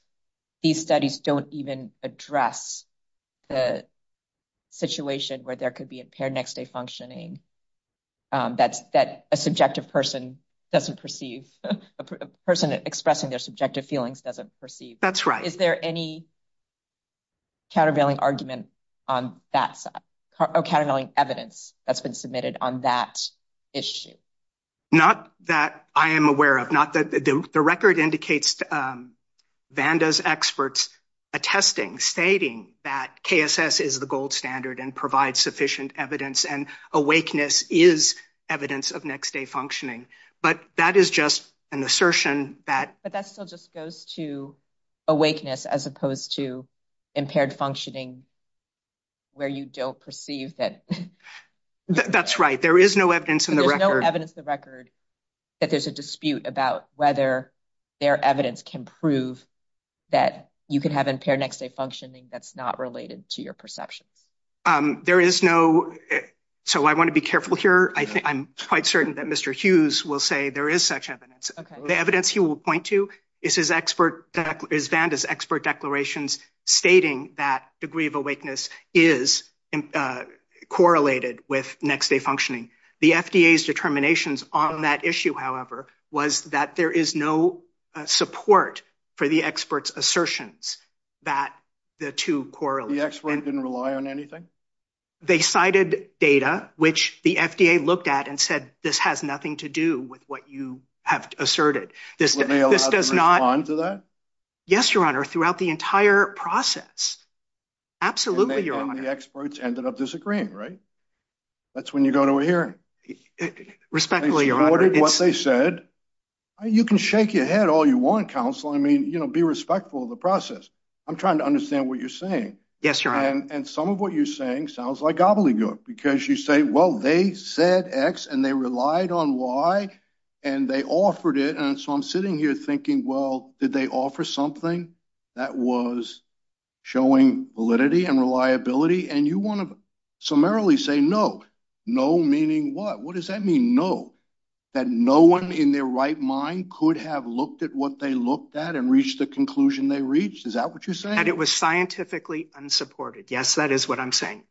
these studies don't even address the situation where there could be impaired next-day functioning um that's that a subjective person doesn't perceive a person expressing their subjective feelings doesn't perceive that's right is there any countervailing argument on that side or countervailing evidence that's been on that issue not that i am aware of not that the record indicates vanda's experts attesting stating that kss is the gold standard and provides sufficient evidence and awakeness is evidence of next day functioning but that is just an assertion that but that still just goes to awakeness as opposed to impaired functioning where you don't perceive that that's right there is no evidence in the record evidence the record that there's a dispute about whether their evidence can prove that you can have impaired next day functioning that's not related to your perceptions um there is no so i want to be careful here i think i'm quite certain that mr hughes will say there is such evidence the evidence he will point to is his is vanda's expert declarations stating that degree of awakeness is correlated with next day functioning the fda's determinations on that issue however was that there is no support for the experts assertions that the two correlates didn't rely on anything they cited data which the fda looked at and said this has nothing to do with what you have asserted this this does not respond to that yes your honor throughout the entire process absolutely your honor the experts ended up disagreeing right that's when you go to a hearing respectfully what they said you can shake your head all you want counsel i mean you know be respectful of the process i'm trying to understand what you're saying yes your honor and some of what you're saying sounds like gobbledygook because you say well they said x and they relied on y and they offered it and so i'm sitting here thinking well did they offer something that was showing validity and reliability and you want to summarily say no no meaning what what does that mean no that no one in their right mind could have looked at what they looked at and reached the conclusion they reached is that what you're saying it was scientifically unsupported yes that is what i'm saying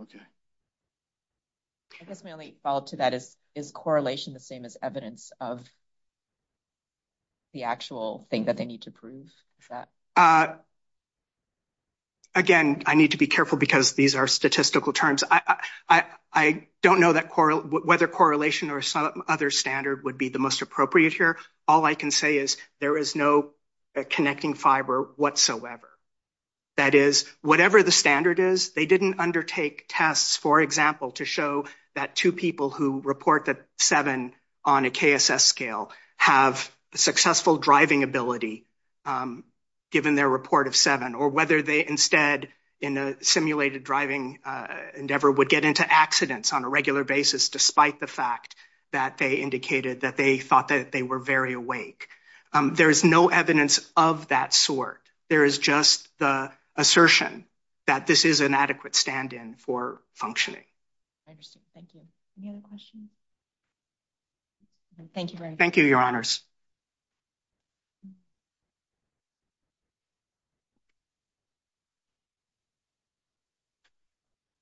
okay i guess my only follow-up to that is is correlation the same as evidence of the actual thing that they need to prove is that uh again i need to be careful because these are statistical terms i i i don't know that coral whether correlation or some other standard would be the most appropriate here all i can say is there is no connecting fiber whatsoever that is whatever the standard is they didn't undertake tests for example to show that two people who report that seven on a kss scale have successful driving ability um given their report of seven or whether they instead in a simulated driving uh endeavor would get into accidents on a regular basis despite the fact that they indicated that they thought that they were very awake um there is no evidence of that sort there is just the assertion that this is an adequate stand-in for functioning i understand thank you any other questions thank you thank you your honors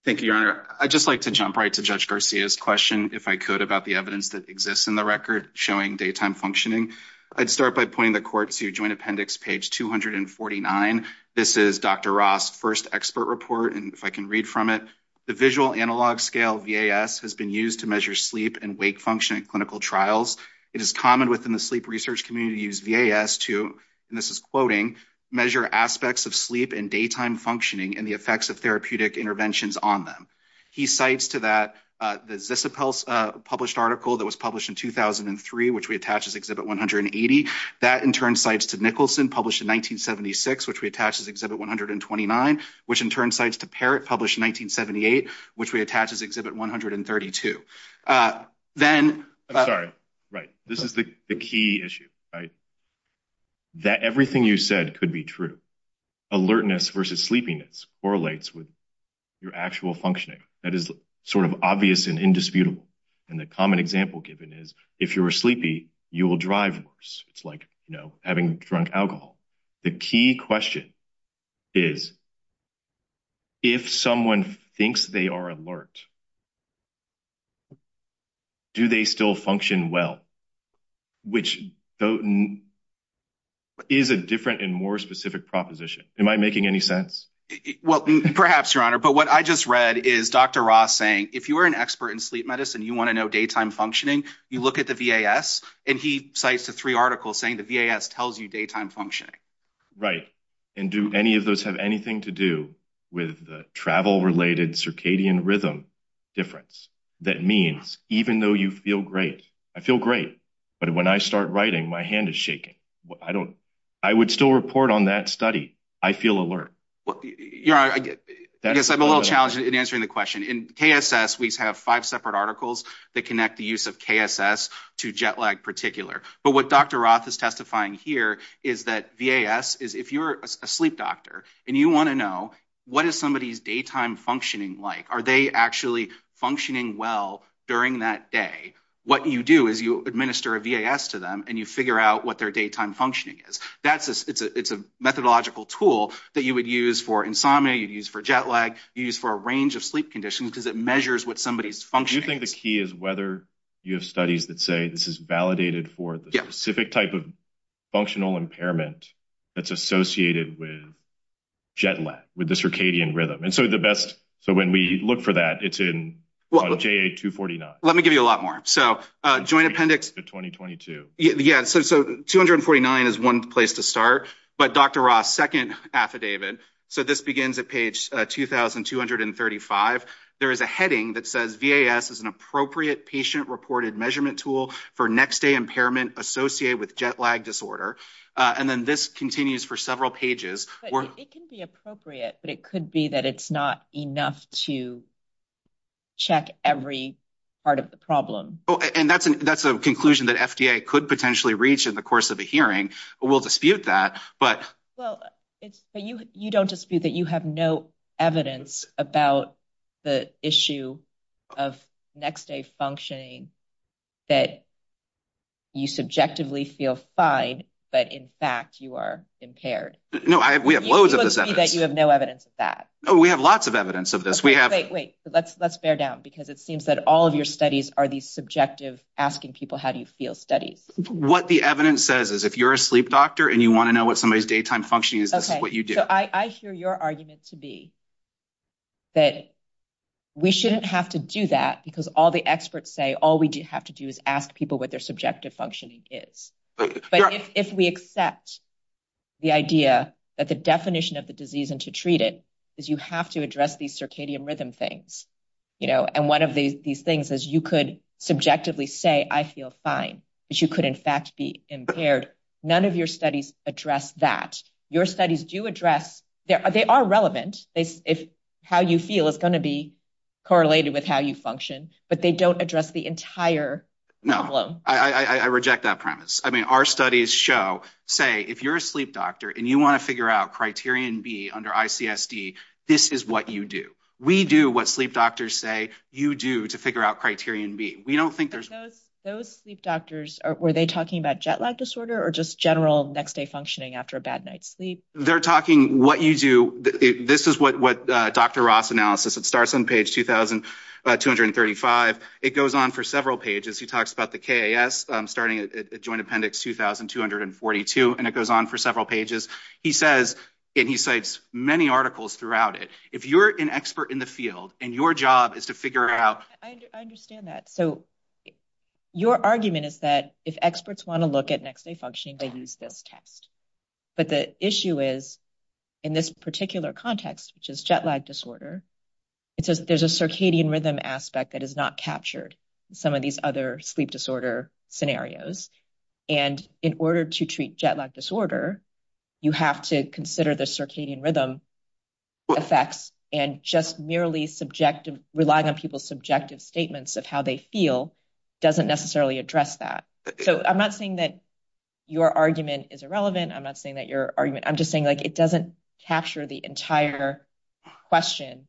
thank you your honor i'd just like to jump right to judge garcia's question if i could about the evidence that exists in the record showing daytime functioning i'd start by pointing the court to joint appendix page 249 this is dr ross first expert report and if i can read from it the visual analog scale vas has been used to measure sleep and wake function at clinical trials it is common within the sleep research community to use vas to and this is quoting measure aspects of sleep and daytime functioning and the effects of therapeutic interventions on them he cites to the zisip pulse uh published article that was published in 2003 which we attach as exhibit 180 that in turn cites to nicholson published in 1976 which we attach as exhibit 129 which in turn cites to parrot published 1978 which we attach as exhibit 132 uh then i'm sorry right this is the the key issue right that everything you said could be true alertness versus sleepiness correlates with your actual functioning that is sort of obvious and indisputable and the common example given is if you're sleepy you will drive worse it's like you know having drunk alcohol the key question is if someone thinks they are alert do they still function well which though is a different and more specific proposition am i making any sense well perhaps your honor but what i just read is dr ross saying if you are an expert in sleep medicine you want to know daytime functioning you look at the vas and he cites the three articles saying the vas tells you daytime functioning right and do any of those have anything to do with the travel related circadian rhythm difference that means even though you feel great i feel great but when i start writing my hand is shaking i don't i would still report on that study i feel alert well you're i guess i'm a little challenged in answering the question in kss we have five separate articles that connect the use of kss to jet lag particular but what dr roth is testifying here is that vas is if you're a sleep doctor and you want to know what is somebody's daytime functioning like are they actually functioning well during that day what you do is you administer a vas to them and you figure out what their daytime functioning is that's a it's a it's a methodological tool that you would use for insomnia you'd use for jet lag you use for a range of sleep conditions because it measures what somebody's functioning i think the key is whether you have studies that say this is validated for the specific type of functional impairment that's associated with jet lag with the circadian rhythm and so the best so when we look for that it's in ja249 let me give you a lot more so uh joint appendix 2022 yeah so so 249 is one place to start but dr ross second affidavit so this begins at page 2235 there is a heading that says vas is an appropriate patient reported measurement tool for next day impairment associated with jet lag disorder and then this continues for several pages it can be appropriate but it could be that it's not enough to check every part of the problem oh and that's an that's conclusion that fda could potentially reach in the course of a hearing we'll dispute that but well it's you you don't dispute that you have no evidence about the issue of next day functioning that you subjectively feel fine but in fact you are impaired no i we have loads of this that you have no evidence of that oh we have lots of evidence of this we have wait wait let's let's because it seems that all of your studies are these subjective asking people how do you feel studies what the evidence says is if you're a sleep doctor and you want to know what somebody's daytime functioning is this is what you do so i i hear your argument to be that we shouldn't have to do that because all the experts say all we do have to do is ask people what their subjective functioning is but if we accept the idea that the definition of the disease and to treat it you have to address these circadian rhythm things you know and one of these these things is you could subjectively say i feel fine but you could in fact be impaired none of your studies address that your studies do address there they are relevant they if how you feel is going to be correlated with how you function but they don't address the entire no i i i reject that premise i mean our studies show say if you're a sleep doctor and you want to figure out criterion b under icsd this is what you do we do what sleep doctors say you do to figure out criterion b we don't think there's those sleep doctors are were they talking about jet lag disorder or just general next day functioning after a bad night's sleep they're talking what you do this is what what dr ross analysis it starts on page 2235 it goes on for several pages he talks about the kas starting at joint appendix 2242 and it goes on for several pages he says and he cites many articles throughout it if you're an expert in the field and your job is to figure out i understand that so your argument is that if experts want to look at next day functioning they use this test but the issue is in this particular context which is jet lag disorder it says there's a circadian rhythm aspect that is not captured some of these other sleep disorder scenarios and in order to treat jet lag disorder you have to consider the circadian rhythm effects and just merely subjective relying on people's subjective statements of how they feel doesn't necessarily address that so i'm not saying that your argument is irrelevant i'm not saying that your argument i'm just saying like it doesn't capture the entire question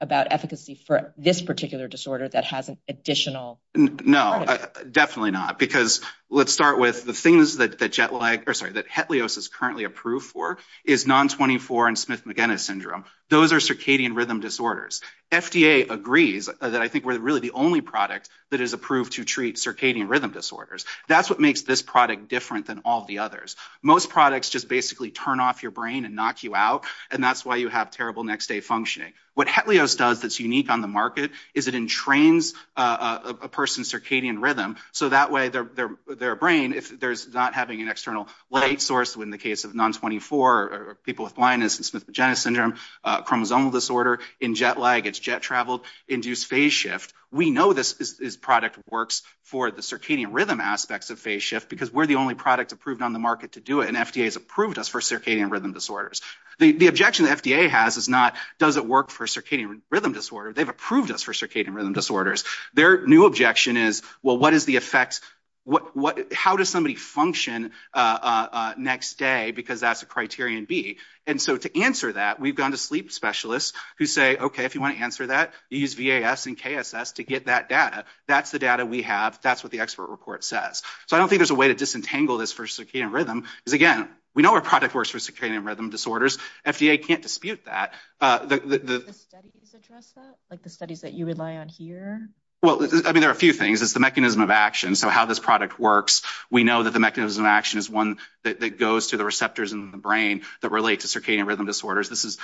about efficacy for this particular disorder that has an additional no definitely not because let's start with the things that that jet lag or sorry that hetlios is currently approved for is non-24 and smith-magenna syndrome those are circadian rhythm disorders fda agrees that i think we're really the only product that is approved to treat circadian rhythm disorders that's what makes this product different than all the others most products just turn off your brain and knock you out and that's why you have terrible next day functioning what hetlios does that's unique on the market is it entrains a person's circadian rhythm so that way their their brain if there's not having an external light source in the case of non-24 or people with blindness and smith-magenna syndrome chromosomal disorder in jet lag it's jet traveled induced phase shift we know this is product works for the circadian rhythm aspects of phase shift because we're the only product approved on the market to do it and fda has approved us for circadian rhythm disorders the the objection the fda has is not does it work for circadian rhythm disorder they've approved us for circadian rhythm disorders their new objection is well what is the effect what what how does somebody function uh uh next day because that's a criterion b and so to answer that we've gone to sleep specialists who say okay if you want to answer that you use vas and kss to get that data that's the data we have that's what the expert report says so i don't think there's a way to disentangle this for circadian rhythm is again we know our product works for circadian rhythm disorders fda can't dispute that uh the the studies address that like the studies that you rely on here well i mean there are a few things it's the mechanism of action so how this product works we know that the mechanism of action is one that goes to the receptors in the brain that relate to circadian rhythm disorders this is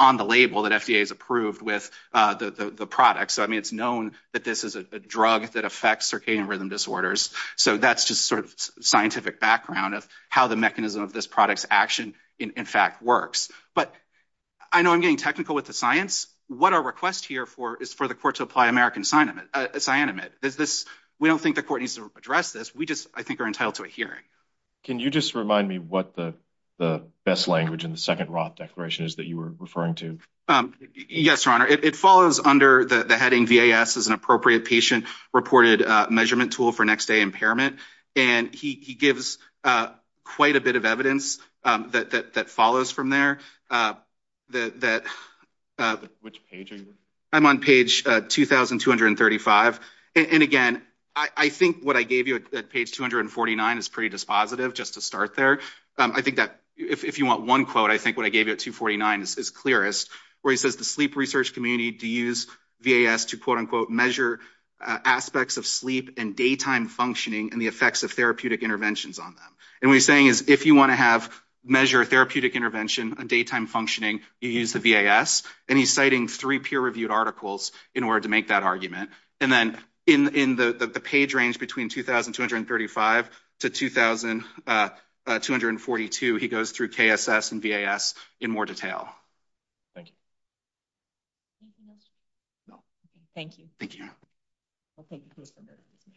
on the label that fda is approved with uh the the product so i mean it's known that this is a drug that affects circadian rhythm disorders so that's a sort of scientific background of how the mechanism of this product's action in fact works but i know i'm getting technical with the science what our request here for is for the court to apply american cyanamide cyanamide is this we don't think the court needs to address this we just i think are entitled to a hearing can you just remind me what the the best language in the second roth declaration is that you were referring to um yes your honor it follows under the heading vas is an appropriate patient reported uh measurement tool for next day impairment and he he gives uh quite a bit of evidence um that that that follows from there uh that that which page i'm on page uh 2235 and again i i think what i gave you at page 249 is pretty dispositive just to start there um i think that if you want one quote i think what i gave you at 249 is clearest where he says the sleep research community to use vas to quote unquote measure aspects of sleep and daytime functioning and the effects of therapeutic interventions on them and what he's saying is if you want to have measure therapeutic intervention and daytime functioning you use the vas and he's citing three peer-reviewed articles in order to make that argument and then in in the the page range between 2235 to 2242 he goes through kss and vas in more detail thank you thank you thank you